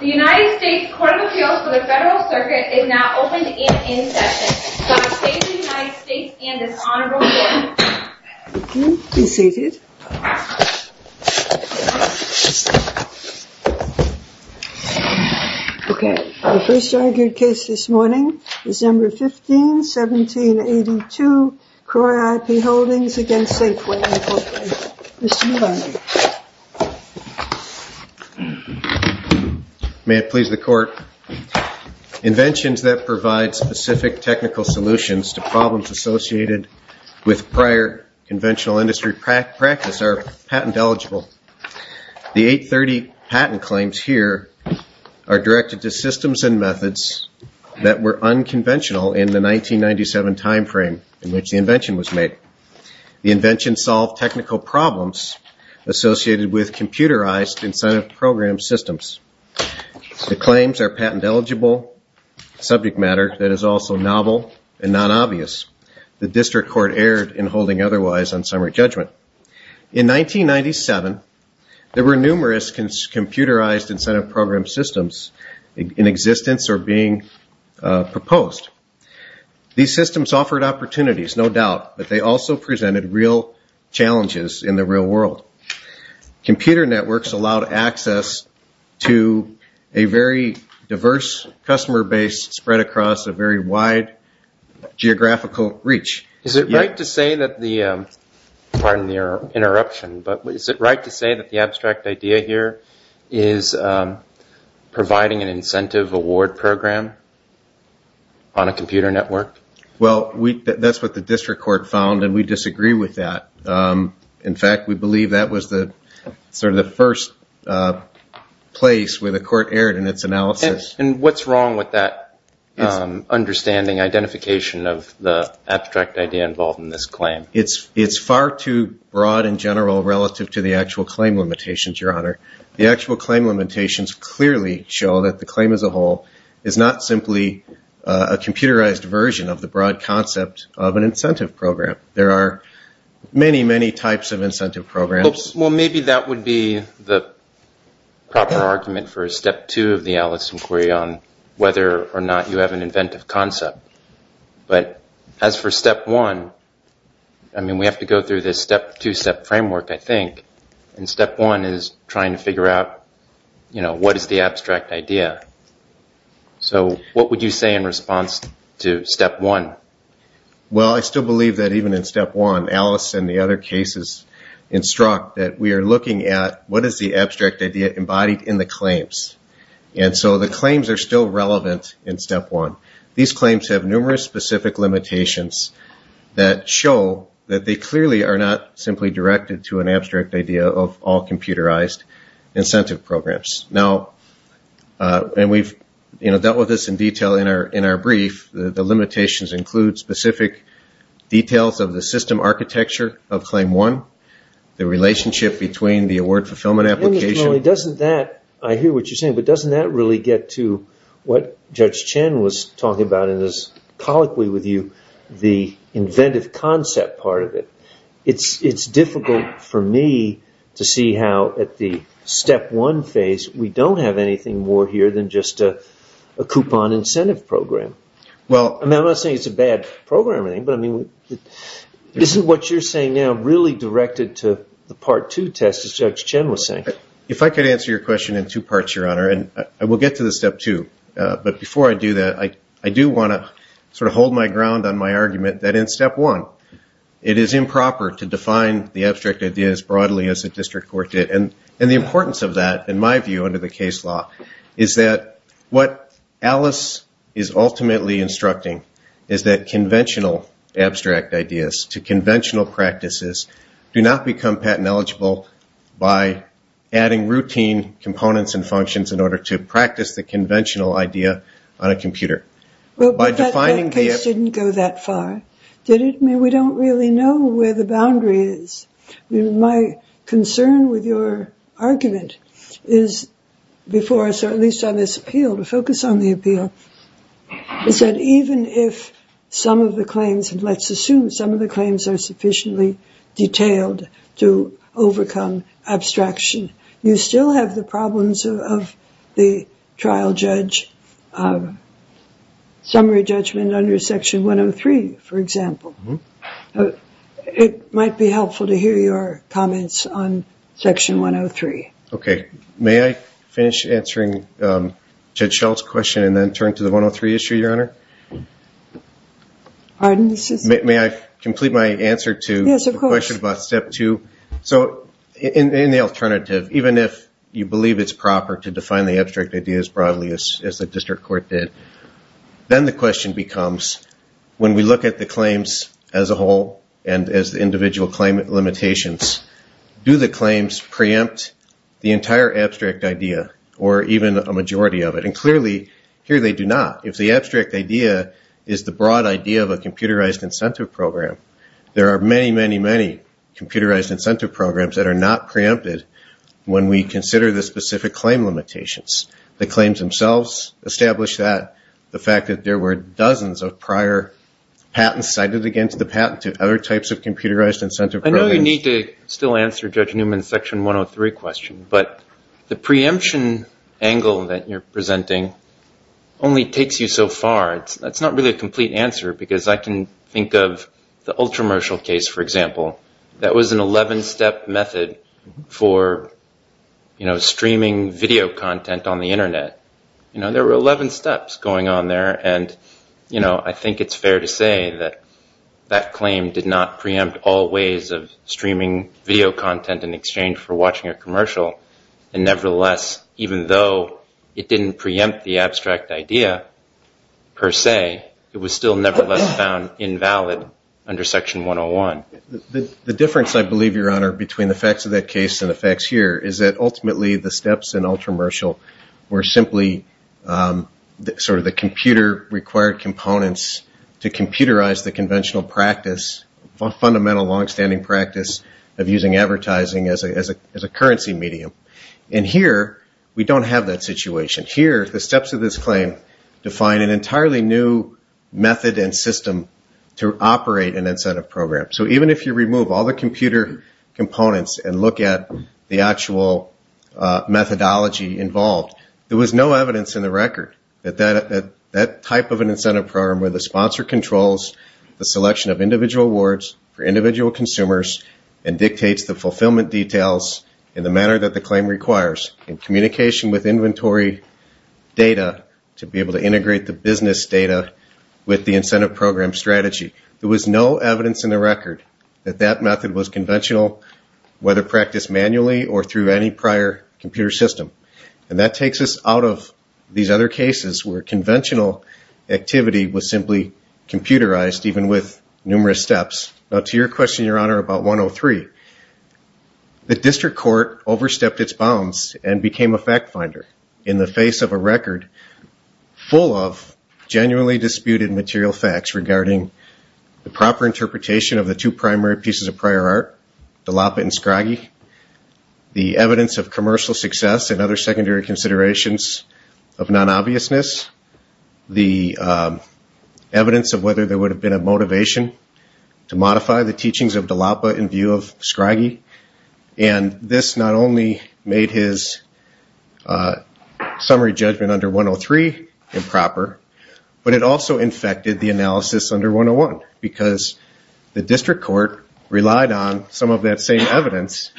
The United States Court of Appeals for the Federal Circuit is now open to the in-in session. Judge Hayes of the United States and his Honorable Court. Thank you. Be seated. Okay. Our first argued case this morning, December 15, 1782, Croy IP Holdings against Safeway Incorporated. Mr. Miller. May it please the Court. Inventions that provide specific technical solutions to problems associated with prior conventional industry practice are patent eligible. The 830 patent claims here are directed to systems and methods that were unconventional in the 1997 time frame in which the invention was made. The invention solved technical problems associated with computerized incentive program systems. The claims are patent eligible subject matter that is also novel and non-obvious. The district court erred in holding otherwise on summary judgment. In 1997, there were numerous computerized incentive program systems in existence or being proposed. These systems offered opportunities, no doubt, but they also presented real challenges in the real world. Computer networks allowed access to a very diverse customer base spread across a very wide geographical reach. Is it right to say that the, pardon the interruption, but is it right to say that the abstract idea here is providing an incentive award program on a computer network? Well, that's what the district court found, and we disagree with that. In fact, we believe that was sort of the first place where the court erred in its analysis. And what's wrong with that understanding, identification of the abstract idea involved in this claim? It's far too broad in general relative to the actual claim limitations, Your Honor. The actual claim limitations clearly show that the claim as a whole is not simply a computerized version of the broad concept of an incentive program. There are many, many types of incentive programs. Well, maybe that would be the proper argument for step two of the Alice inquiry on whether or not you have an inventive concept. But as for step one, I mean, we have to go through this step-two-step framework, I think, and step one is trying to figure out, you know, what is the abstract idea. So what would you say in response to step one? Well, I still believe that even in step one, Alice and the other cases instruct that we are looking at what is the abstract idea embodied in the claims. And so the claims are still relevant in step one. These claims have numerous specific limitations that show that they clearly are not simply directed to an abstract idea of all computerized incentive programs. And we've dealt with this in detail in our brief. The limitations include specific details of the system architecture of claim one, the relationship between the award fulfillment application. I hear what you're saying, but doesn't that really get to what Judge Chen was talking about in his colloquy with you, the inventive concept part of it? It's difficult for me to see how at the step one phase we don't have anything more here than just a coupon incentive program. I'm not saying it's a bad program or anything, but I mean, isn't what you're saying now really directed to the part two test, as Judge Chen was saying? If I could answer your question in two parts, Your Honor, and we'll get to the step two. But before I do that, I do want to sort of hold my ground on my argument that in step one, it is improper to define the abstract idea as broadly as a district court did. And the importance of that, in my view, under the case law, is that what Alice is ultimately instructing is that conventional abstract ideas to conventional practices do not become patent eligible by adding routine components and functions in order to practice the conventional idea on a computer. But that case didn't go that far, did it? I mean, we don't really know where the boundary is. My concern with your argument is before us, or at least on this appeal, to focus on the appeal, is that even if some of the claims, and let's assume some of the claims are sufficiently detailed to overcome abstraction, you still have the problems of the trial judge summary judgment under Section 103, for example. It might be helpful to hear your comments on Section 103. Okay. May I finish answering Judge Schultz's question and then turn to the 103 issue, Your Honor? May I complete my answer to the question about step two? Yes, of course. So in the alternative, even if you believe it's proper to define the abstract idea as broadly as the district court did, then the question becomes, when we look at the claims as a whole and as the individual claim limitations, do the claims preempt the entire abstract idea or even a majority of it? And clearly, here they do not. If the abstract idea is the broad idea of a computerized incentive program, there are many, many, many computerized incentive programs that are not preempted when we consider the specific claim limitations. The claims themselves establish that. The fact that there were dozens of prior patents cited against the patent to other types of computerized incentive programs. I know you need to still answer Judge Newman's Section 103 question, but the preemption angle that you're presenting only takes you so far. That's not really a complete answer because I can think of the Ultramershal case, for example. That was an 11-step method for streaming video content on the Internet. There were 11 steps going on there, and I think it's fair to say that that claim did not preempt all ways of streaming video content in exchange for watching a commercial, and nevertheless, even though it didn't preempt the abstract idea per se, it was still nevertheless found invalid under Section 101. The difference, I believe, Your Honor, between the facts of that case and the facts here, is that ultimately the steps in Ultramershal were simply sort of the computer-required components to computerize the conventional practice, fundamental longstanding practice of using advertising as a currency medium. And here, we don't have that situation. Here, the steps of this claim define an entirely new method and system to operate an incentive program. So even if you remove all the computer components and look at the actual methodology involved, there was no evidence in the record that that type of an incentive program, where the sponsor controls the selection of individual awards for individual consumers and dictates the fulfillment details in the manner that the claim requires, and communication with inventory data to be able to integrate the business data with the incentive program strategy. There was no evidence in the record that that method was conventional, whether practiced manually or through any prior computer system. And that takes us out of these other cases where conventional activity was simply computerized, even with numerous steps. Now, to your question, Your Honor, about 103, the district court overstepped its bounds and became a fact finder in the face of a record full of genuinely disputed material facts regarding the proper interpretation of the two primary pieces of prior art, Dallapa and Scraggy, the evidence of commercial success and other secondary considerations of non-obviousness, the evidence of whether there would have been a motivation to modify the teachings of Dallapa in view of Scraggy. And this not only made his summary judgment under 103 improper, but it also infected the analysis under 101 because the district court relied on some of that same evidence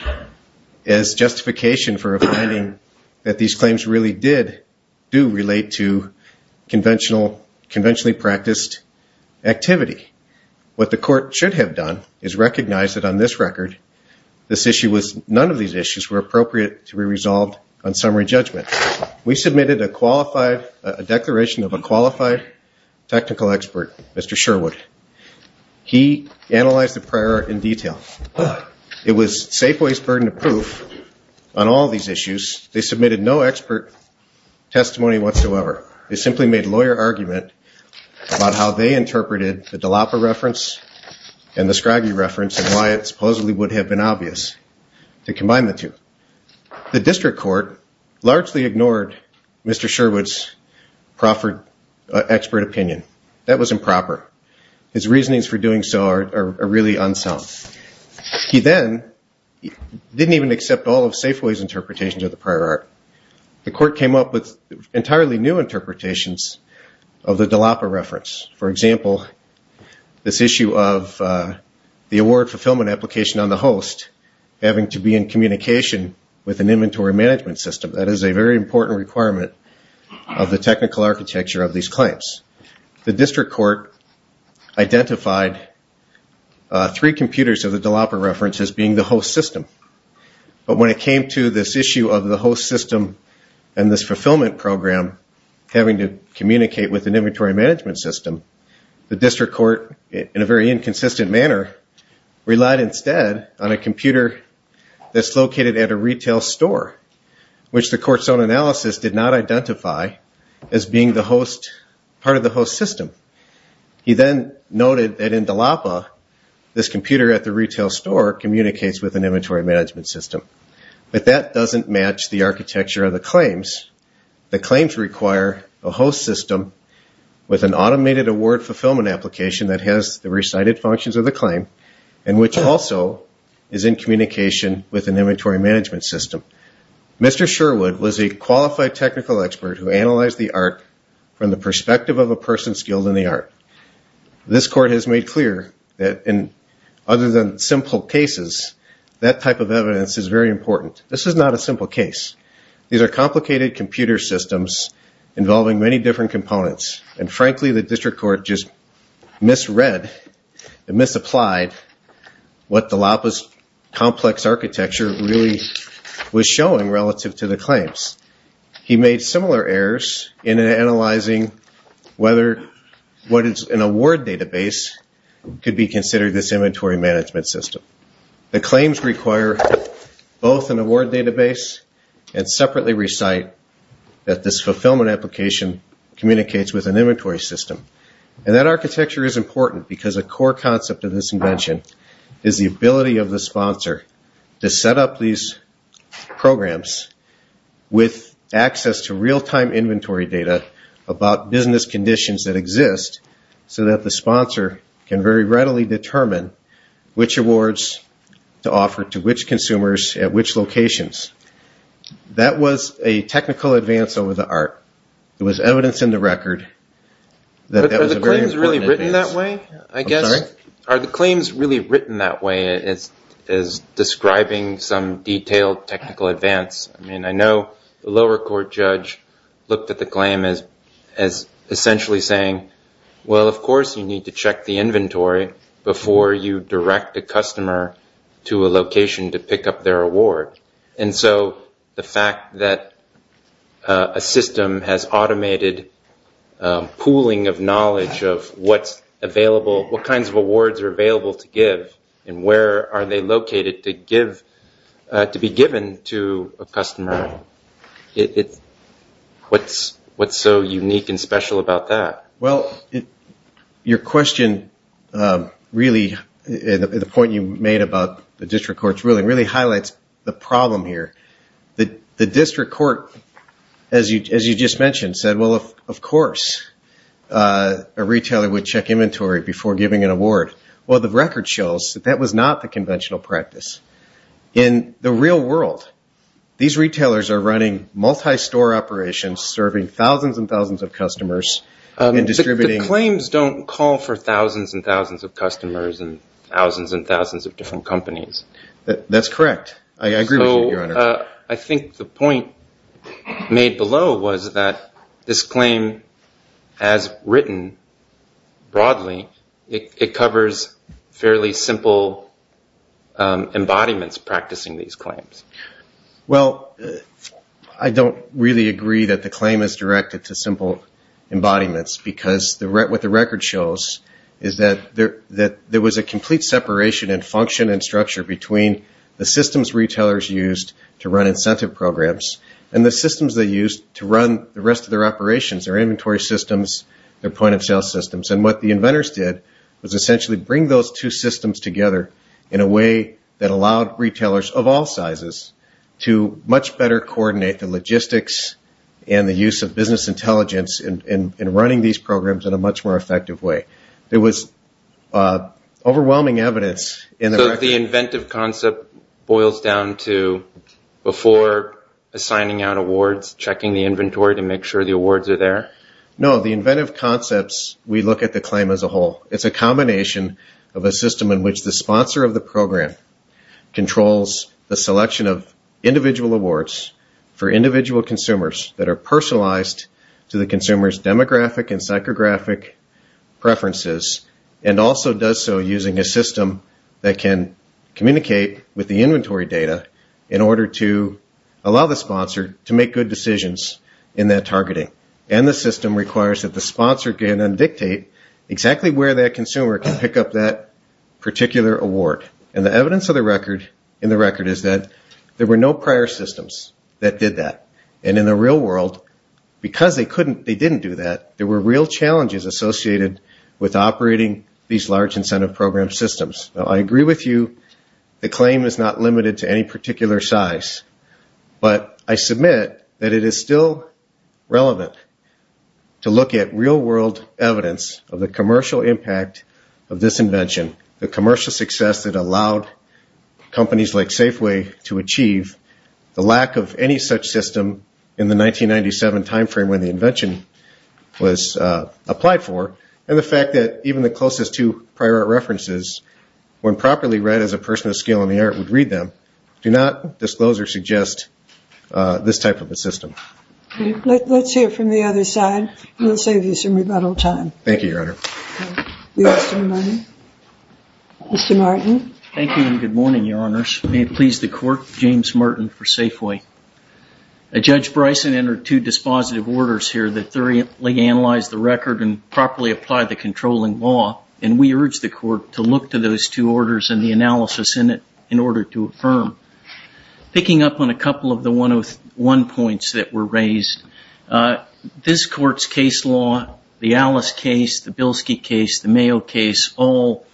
as justification for a finding that these claims really did do relate to conventionally practiced activity. What the court should have done is recognize that on this record, none of these issues were appropriate to be resolved on summary judgment. We submitted a declaration of a qualified technical expert, Mr. Sherwood. He analyzed the prior art in detail. It was Safeway's burden of proof on all these issues. They submitted no expert testimony whatsoever. They simply made lawyer argument about how they interpreted the Dallapa reference and the Scraggy reference and why it supposedly would have been obvious to combine the two. The district court largely ignored Mr. Sherwood's proffered expert opinion. That was improper. His reasonings for doing so are really unsound. He then didn't even accept all of Safeway's interpretations of the prior art. The court came up with entirely new interpretations of the Dallapa reference. For example, this issue of the award fulfillment application on the host having to be in communication with an inventory management system. That is a very important requirement of the technical architecture of these claims. The district court identified three computers of the Dallapa reference as being the host system. But when it came to this issue of the host system and this fulfillment program, having to communicate with an inventory management system, the district court, in a very inconsistent manner, relied instead on a computer that's located at a retail store, which the court's own analysis did not identify as being part of the host system. He then noted that in Dallapa, this computer at the retail store communicates with an inventory management system. But that doesn't match the architecture of the claims. The claims require a host system with an automated award fulfillment application that has the recited functions of the claim and which also is in communication with an inventory management system. Mr. Sherwood was a qualified technical expert who analyzed the art from the perspective of a person skilled in the art. This court has made clear that other than simple cases, that type of evidence is very important. This is not a simple case. These are complicated computer systems involving many different components. And frankly, the district court just misread and misapplied what Dallapa's complex architecture really was showing relative to the claims. He made similar errors in analyzing whether what is an award database could be considered this inventory management system. The claims require both an award database and separately recite that this fulfillment application communicates with an inventory system. And that architecture is important because a core concept of this invention is the ability of the sponsor to set up these programs with access to real-time inventory data about business conditions that exist so that the sponsor can very readily determine which awards to offer to which consumers at which locations. That was a technical advance over the art. It was evidence in the record that that was a very important advance. But are the claims really written that way, I guess? I'm sorry? Are the claims really written that way as describing some detailed technical advance? I mean, I know the lower court judge looked at the claim as essentially saying, well, of course you need to check the inventory before you direct a customer to a location to pick up their award. And so the fact that a system has automated pooling of knowledge of what kinds of awards are available to give and where are they located to be given to a customer, what's so unique and special about that? Well, your question really, the point you made about the district court's ruling, really highlights the problem here. The district court, as you just mentioned, said, well, of course a retailer would check inventory before giving an award. Well, the record shows that that was not the conventional practice. In the real world, these retailers are running multi-store operations serving thousands and thousands of customers and distributing. The claims don't call for thousands and thousands of customers and thousands and thousands of different companies. That's correct. I agree with you, Your Honor. I think the point made below was that this claim, as written broadly, it covers fairly simple embodiments practicing these claims. Well, I don't really agree that the claim is directed to simple embodiments because what the record shows is that there was a complete separation in function and structure between the systems retailers used to run incentive programs and the systems they used to run the rest of their operations, their inventory systems, their point-of-sale systems. And what the inventors did was essentially bring those two systems together in a way that allowed retailers of all sizes to much better coordinate the logistics and the use of business intelligence in running these programs in a much more effective way. There was overwhelming evidence in the record. So the inventive concept boils down to before assigning out awards, checking the inventory to make sure the awards are there? No, the inventive concepts, we look at the claim as a whole. It's a combination of a system in which the sponsor of the program controls the selection of individual awards for individual consumers that are personalized to the consumer's demographic and psychographic preferences and also does so using a system that can communicate with the inventory data in order to allow the sponsor to make good decisions in that targeting. And the system requires that the sponsor can then dictate exactly where that consumer can pick up that particular award. And the evidence in the record is that there were no prior systems that did that. And in the real world, because they didn't do that, there were real challenges associated with operating these large incentive program systems. Now, I agree with you, the claim is not limited to any particular size. But I submit that it is still relevant to look at real-world evidence of the commercial impact of this invention, the commercial success that allowed companies like Safeway to achieve, the lack of any such system in the 1997 timeframe when the invention was applied for, and the fact that even the closest two prior art references, when properly read as a person of skill in the art, would read them, do not disclose or suggest this type of a system. Let's hear from the other side. We'll save you some rebuttal time. Thank you, Your Honor. Mr. Martin. Thank you and good morning, Your Honors. May it please the Court, James Martin for Safeway. Judge Bryson entered two dispositive orders here that thoroughly analyzed the record and properly applied the controlling law, and we urge the Court to look to those two orders and the analysis in it in order to affirm. Picking up on a couple of the 101 points that were raised, this Court's case law, the Alice case, the Bilski case, the Mayo case, all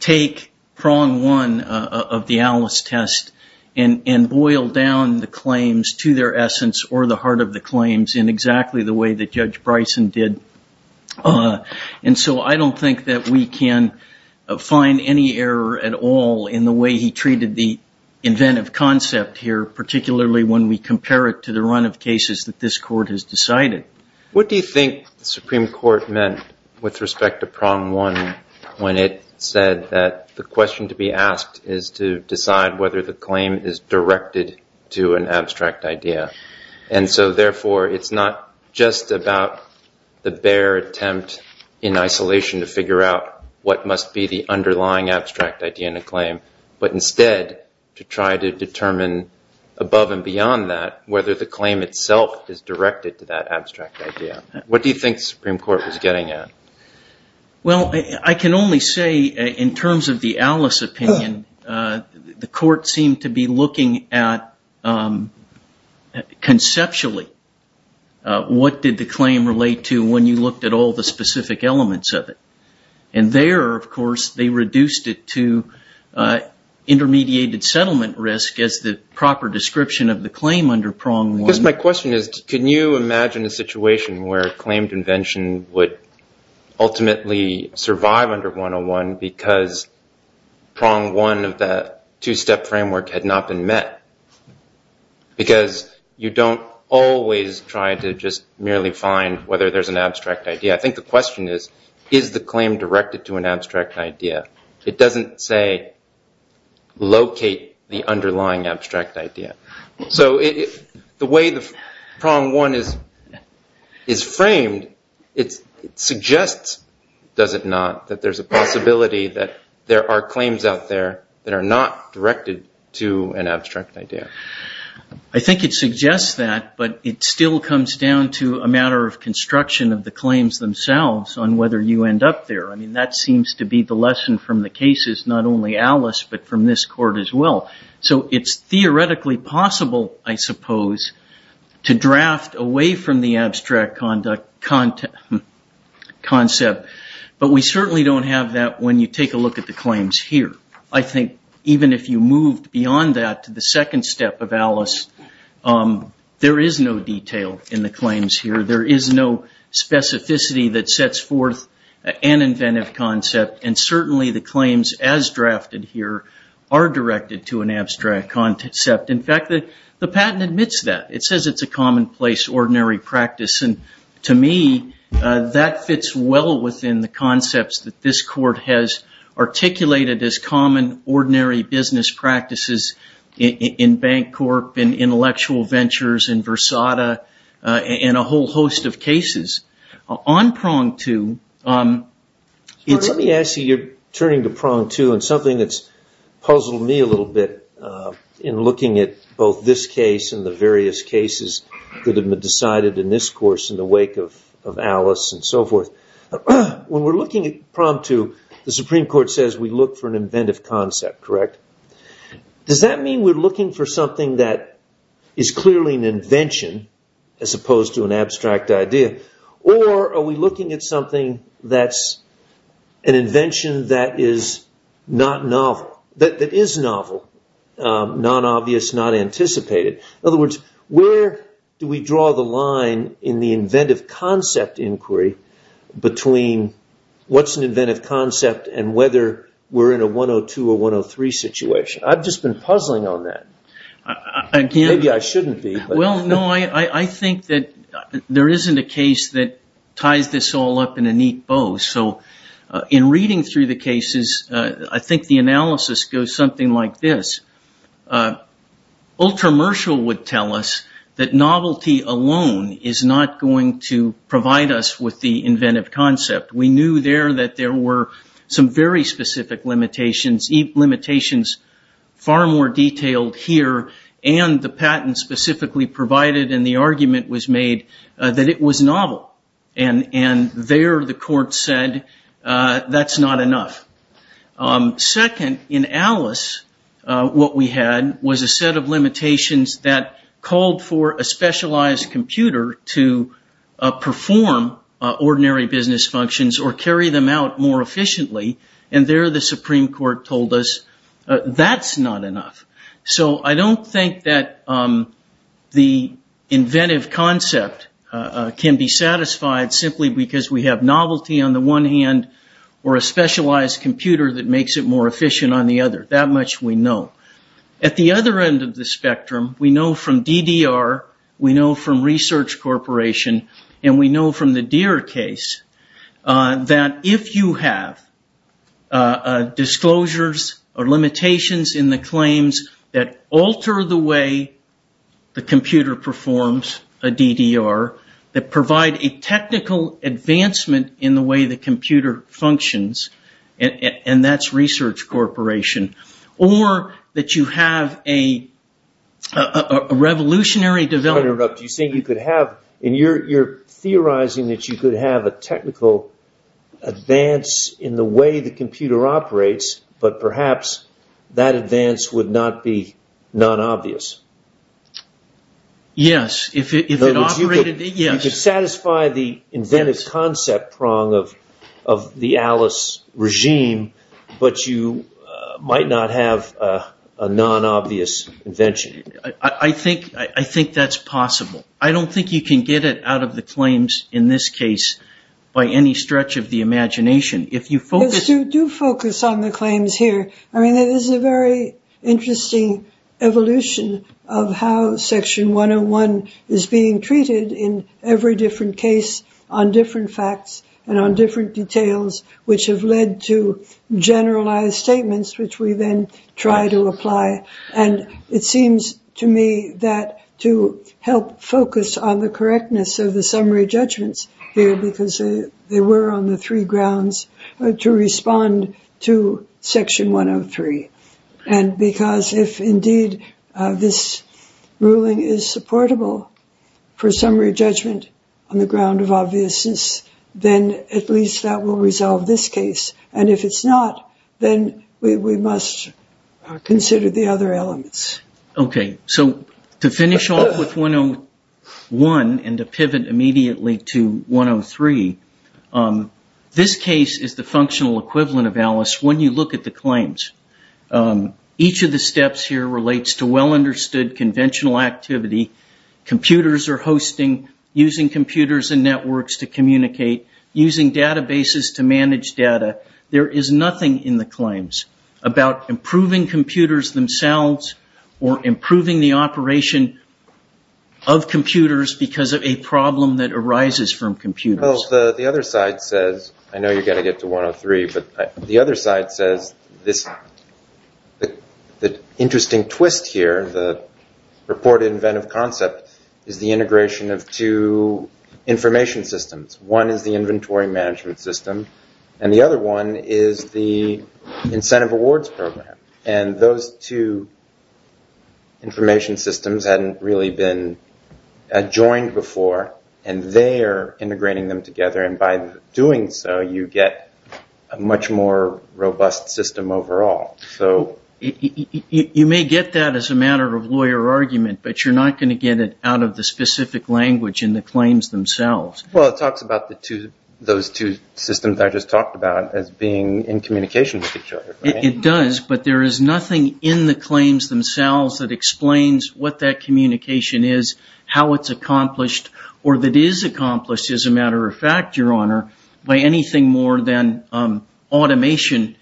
take prong one of the Alice test and boil down the claims to their essence or the heart of the claims in exactly the way that Judge Bryson did. And so I don't think that we can find any error at all in the way he treated the inventive concept here, particularly when we compare it to the run of cases that this Court has decided. What do you think the Supreme Court meant with respect to prong one when it said that the question to be asked is to decide whether the claim is directed to an abstract idea? And so, therefore, it's not just about the bare attempt in isolation to figure out what must be the underlying abstract idea in a claim, but instead to try to determine above and beyond that whether the claim itself is directed to that abstract idea. What do you think the Supreme Court was getting at? Well, I can only say in terms of the Alice opinion, the Court seemed to be looking at conceptually what did the claim relate to when you looked at all the specific elements of it. And there, of course, they reduced it to intermediated settlement risk as the proper description of the claim under prong one. Because my question is, can you imagine a situation where a claim convention would ultimately survive under 101 because prong one of that two-step framework had not been met? Because you don't always try to just merely find whether there's an abstract idea. I think the question is, is the claim directed to an abstract idea? It doesn't say locate the underlying abstract idea. So the way the prong one is framed, it suggests, does it not, that there's a possibility that there are claims out there that are not directed to an abstract idea. I think it suggests that, but it still comes down to a matter of construction of the claims themselves on whether you end up there. I mean, that seems to be the lesson from the cases, not only Alice, but from this Court as well. So it's theoretically possible, I suppose, to draft away from the abstract concept. But we certainly don't have that when you take a look at the claims here. I think even if you moved beyond that to the second step of Alice, there is no detail in the claims here. There is no specificity that sets forth an inventive concept. And certainly the claims as drafted here are directed to an abstract concept. In fact, the patent admits that. It says it's a commonplace, ordinary practice. And to me, that fits well within the concepts that this Court has articulated as common, ordinary business practices in Bancorp, in Intellectual Ventures, in Versada, and a whole host of cases. On prong two, it's... Let me ask you, you're turning to prong two, and something that's puzzled me a little bit in looking at both this case and the various cases that have been decided in this course in the wake of Alice and so forth. When we're looking at prong two, the Supreme Court says we look for an inventive concept, correct? Does that mean we're looking for something that is clearly an invention as opposed to an abstract idea? Or are we looking at something that's an invention that is not novel, that is novel, non-obvious, not anticipated? In other words, where do we draw the line in the inventive concept inquiry between what's an inventive concept and whether we're in a 102 or 103 situation? I've just been puzzling on that. Maybe I shouldn't be. Well, no, I think that there isn't a case that ties this all up in a neat bow. So in reading through the cases, I think the analysis goes something like this. Ultramershal would tell us that novelty alone is not going to provide us with the inventive concept. We knew there that there were some very specific limitations, limitations far more detailed here, and the patent specifically provided, and the argument was made that it was novel. And there the court said, that's not enough. Second, in Alice, what we had was a set of limitations that called for a specialized computer to perform ordinary business functions or carry them out more efficiently. And there the Supreme Court told us, that's not enough. So I don't think that the inventive concept can be satisfied simply because we have novelty on the one hand or a specialized computer. That makes it more efficient on the other. That much we know. At the other end of the spectrum, we know from DDR, we know from Research Corporation, and we know from the Deere case, that if you have disclosures or limitations in the claims that alter the way the computer performs a DDR, that provide a technical advancement in the way the computer functions, and that's Research Corporation, or that you have a revolutionary development. You're theorizing that you could have a technical advance in the way the computer operates, but perhaps that advance would not be non-obvious. Yes. You could satisfy the inventive concept prong of the Alice regime, but you might not have a non-obvious invention. I think that's possible. I don't think you can get it out of the claims in this case by any stretch of the imagination. Do focus on the claims here. I mean, it is a very interesting evolution of how Section 101 is being treated in every different case on different facts and on different details, which have led to generalized statements, which we then try to apply. And it seems to me that to help focus on the correctness of the summary judgments here, because they were on the three grounds to respond to Section 101, and because if indeed this ruling is supportable for summary judgment on the ground of obviousness, then at least that will resolve this case. And if it's not, then we must consider the other elements. Okay. So to finish off with 101 and to pivot immediately to 103, this case is the functional equivalent of Alice when you look at the claims. Each of the steps here relates to well-understood conventional activity. Computers are hosting, using computers and networks to communicate, using databases to manage data. There is nothing in the claims about improving computers themselves or improving the operation of computers because of a problem that arises from computers. Well, the other side says, I know you've got to get to 103, but the other side says, the interesting twist here, the purported inventive concept, is the integration of two information systems. One is the inventory management system, and the other one is the incentive awards program. And those two information systems hadn't really been adjoined, and they are integrating them together, and by doing so, you get a much more robust system overall. You may get that as a matter of lawyer argument, but you're not going to get it out of the specific language in the claims themselves. Well, it talks about those two systems I just talked about as being in communication with each other. It does, but there is nothing in the claims themselves that explains what that communication is, how it's accomplished, or that is accomplished, as a matter of fact, Your Honor, by anything more than automation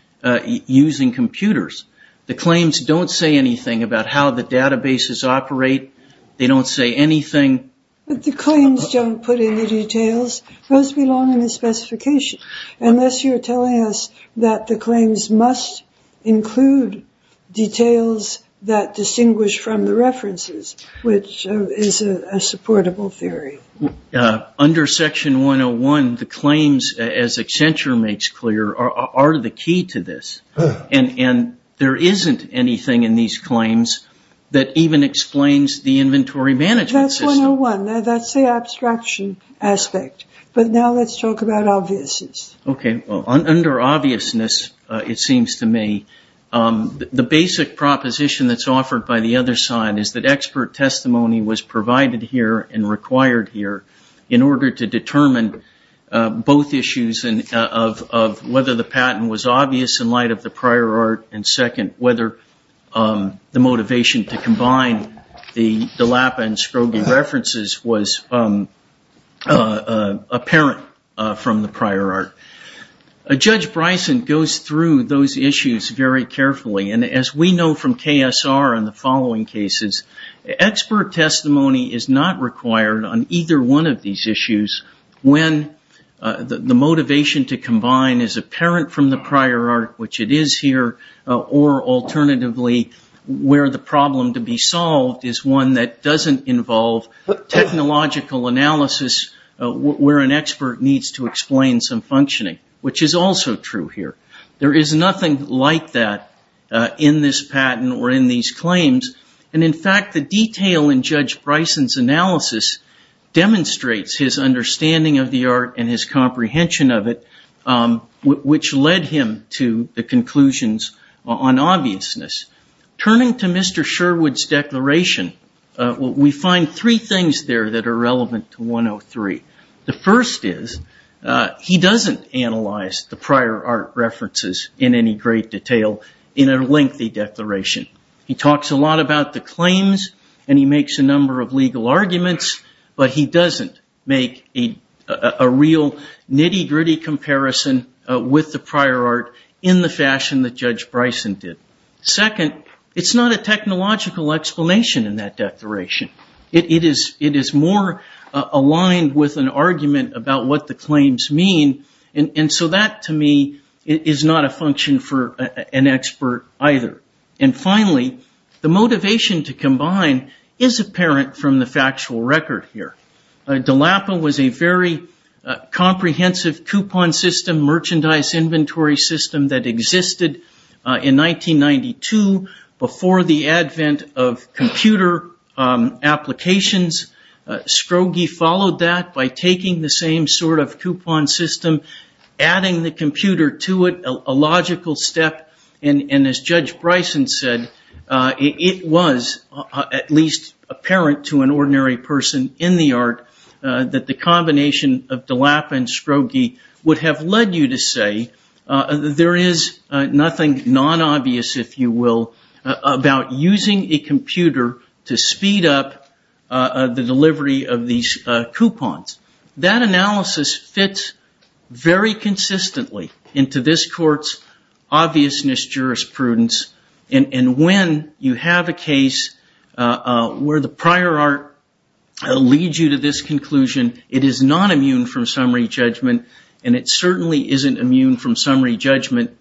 using computers. The claims don't say anything about how the databases operate. They don't say anything. But the claims don't put in the details. Those belong in the specification, unless you're telling us that the claims must include details that distinguish from the references, which is a supportable theory. Under Section 101, the claims, as Accenture makes clear, are the key to this, and there isn't anything in these claims that even explains the inventory management system. Now, that's the abstraction aspect, but now let's talk about obviousness. Okay. Under obviousness, it seems to me, the basic proposition that's offered by the other side is that expert testimony was provided here and required here in order to determine both issues of whether the patent was obvious in light of the prior art, and second, whether the motivation to combine the DILAPA and Scrogi references was apparent from the prior art. Judge Bryson goes through those issues very carefully, and as we know from KSR and the following cases, expert testimony is not required on either one of these issues when the motivation to combine is apparent from the prior art, which it is here, or alternatively, where the problem to be solved is one that doesn't involve technological analysis where an expert needs to explain some functioning, which is also true here. There is nothing like that in this patent or in these claims, and in fact, the detail in Judge Bryson's analysis demonstrates his understanding of the art and his comprehension of it, which led him to the conclusions on obviousness. Turning to Mr. Sherwood's declaration, we find three things there that are relevant to 103. The first is he doesn't analyze the prior art references in any great detail in a lengthy declaration. He talks a lot about the claims, and he makes a number of legal arguments, but he doesn't make a real nitty-gritty comparison with the prior art in the fashion that Judge Bryson did. Second, it's not a technological explanation in that declaration. It is more aligned with an argument about what the claims mean, and so that to me is not a function for an expert either. And finally, the motivation to combine is apparent from the factual record here. DELAPA was a very comprehensive coupon system, merchandise inventory system that existed in 1992, before the advent of computer applications. Scrogi followed that by taking the same sort of coupon system, adding the computer to it, a logical step, and as Judge Bryson said, it was at least apparent to an ordinary person in the art that the combination of DELAPA and Scrogi would have led you to say, there is nothing non-obvious, if you will, about using a computer to speed up the delivery of these coupons. That analysis fits very consistently into this Court's obvious need to speed up the delivery of these coupons. And when you have a case where the prior art leads you to this conclusion, it is not immune from summary judgment, and it certainly isn't immune from summary judgment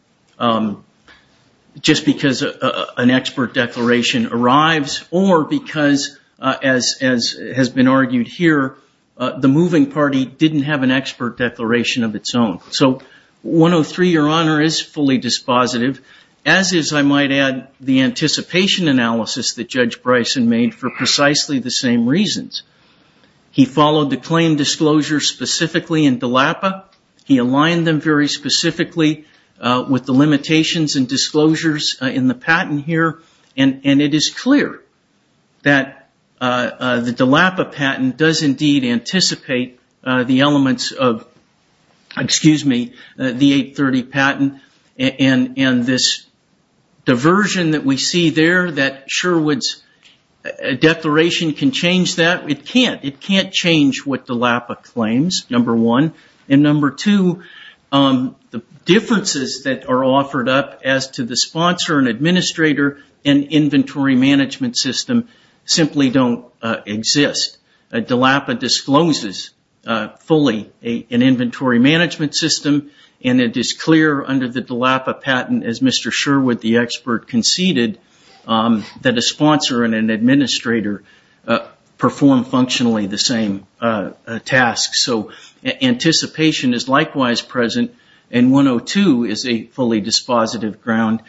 just because an expert declaration arrives, or because, as has been argued here, the moving party didn't have an expert declaration of its own. So 103, Your Honor, is fully dispositive, as is, I might add, the anticipation analysis that Judge Bryson made for precisely the same reasons. He followed the claim disclosure specifically in DELAPA, he aligned them very specifically with the limitations and disclosures in the patent here, and it is clear that the DELAPA patent does indeed anticipate the elements of the 830 patent, and this diversion that we see there, that Sherwood's declaration can change that. It can't. It can't change what DELAPA claims, number one. And number two, the differences that are offered up as to the sponsor and administrator and inventory management system simply don't exist. DELAPA discloses fully an inventory management system, and it is clear under the DELAPA patent, as Mr. Sherwood, the expert, conceded, that a sponsor and an administrator perform functionally the same task. So anticipation is likewise present, and 102 is a fully dispositive ground.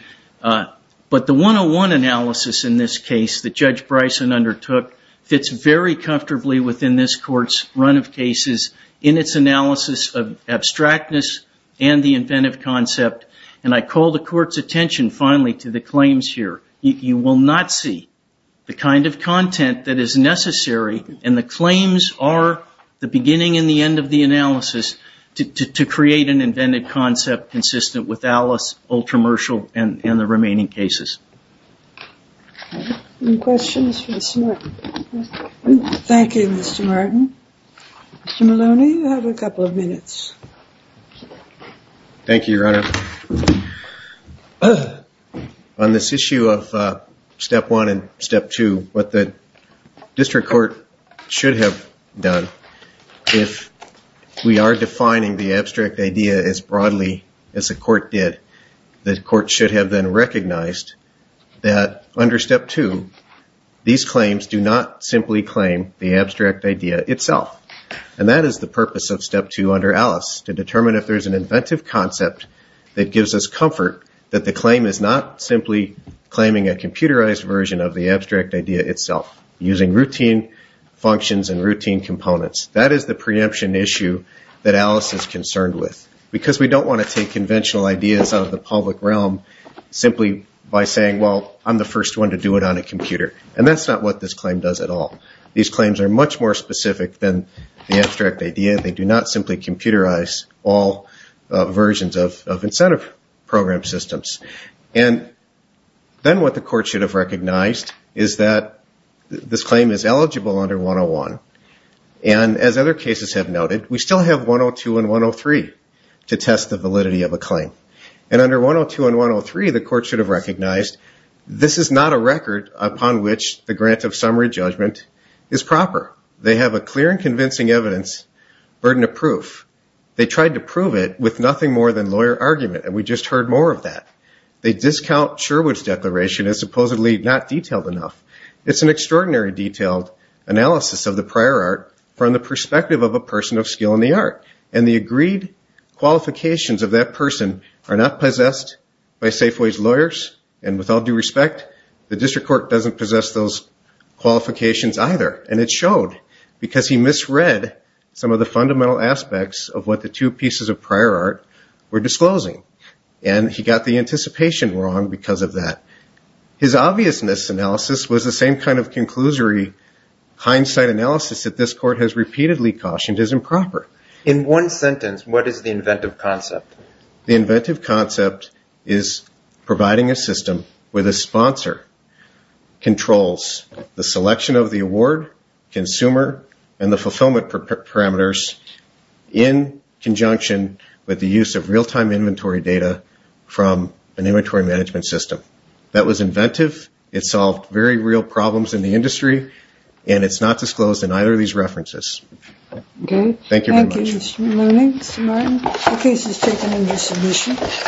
But the 101 analysis in this case that Judge Bryson undertook fits very comfortably within this Court's run of cases in its analysis of abstractness and the inventive concept. And I call the Court's attention, finally, to the claims here. You will not see the kind of content that is necessary, and the claims are the beginning and the end of the analysis, to create an inventive concept consistent with ALICE, Ultramercial, and the remaining cases. Any questions for Mr. Martin? Thank you, Mr. Martin. Mr. Maloney, you have a couple of minutes. Thank you, Your Honor. On this issue of Step 1 and Step 2, what the District Court should have done, if we are defining the abstract idea as broadly as the Court did, the Court should have then recognized that under Step 2, these claims do not simply claim the abstract idea itself. And that is the purpose of Step 2 under ALICE, to determine if there is an inventive concept that gives us comfort that the claim is not simply claiming a computerized version of the abstract idea itself, using routine functions and routine components. That is the preemption issue that ALICE is concerned with, because we don't want to take conventional ideas out of the public realm simply by saying, well, I'm the first one to do it on a computer. And that's not what this claim does at all. These claims are much more specific than the abstract idea. They do not simply computerize all versions of incentive program systems. And then what the Court should have recognized is that this claim is eligible under 101. And as other cases have noted, we still have 102 and 103 to test the validity of a claim. And under 102 and 103, the Court should have recognized this is not a record upon which the grant of summary judgment is proper. They have a clear and convincing evidence, burden of proof. They tried to prove it with nothing more than lawyer argument, and we just heard more of that. They discount Sherwood's declaration as supposedly not detailed enough. It's an extraordinary detailed analysis of the prior art from the perspective of a person of skill in the art. And the agreed qualifications of that person are not possessed by Safeway's lawyers. And with all due respect, the District Court doesn't possess those qualifications either. And it showed because he misread some of the fundamental aspects of what the two pieces of prior art were disclosing. And he got the anticipation wrong because of that. His obviousness analysis was the same kind of conclusory hindsight analysis that this Court has repeatedly cautioned is improper. In one sentence, what is the inventive concept? The inventive concept is providing a system where the sponsor controls the selection of the award, consumer, and the fulfillment parameters in conjunction with the use of real-time inventory data from an inventory management system. That was inventive, it solved very real problems in the industry, and it's not disclosed in either of these references. Thank you very much.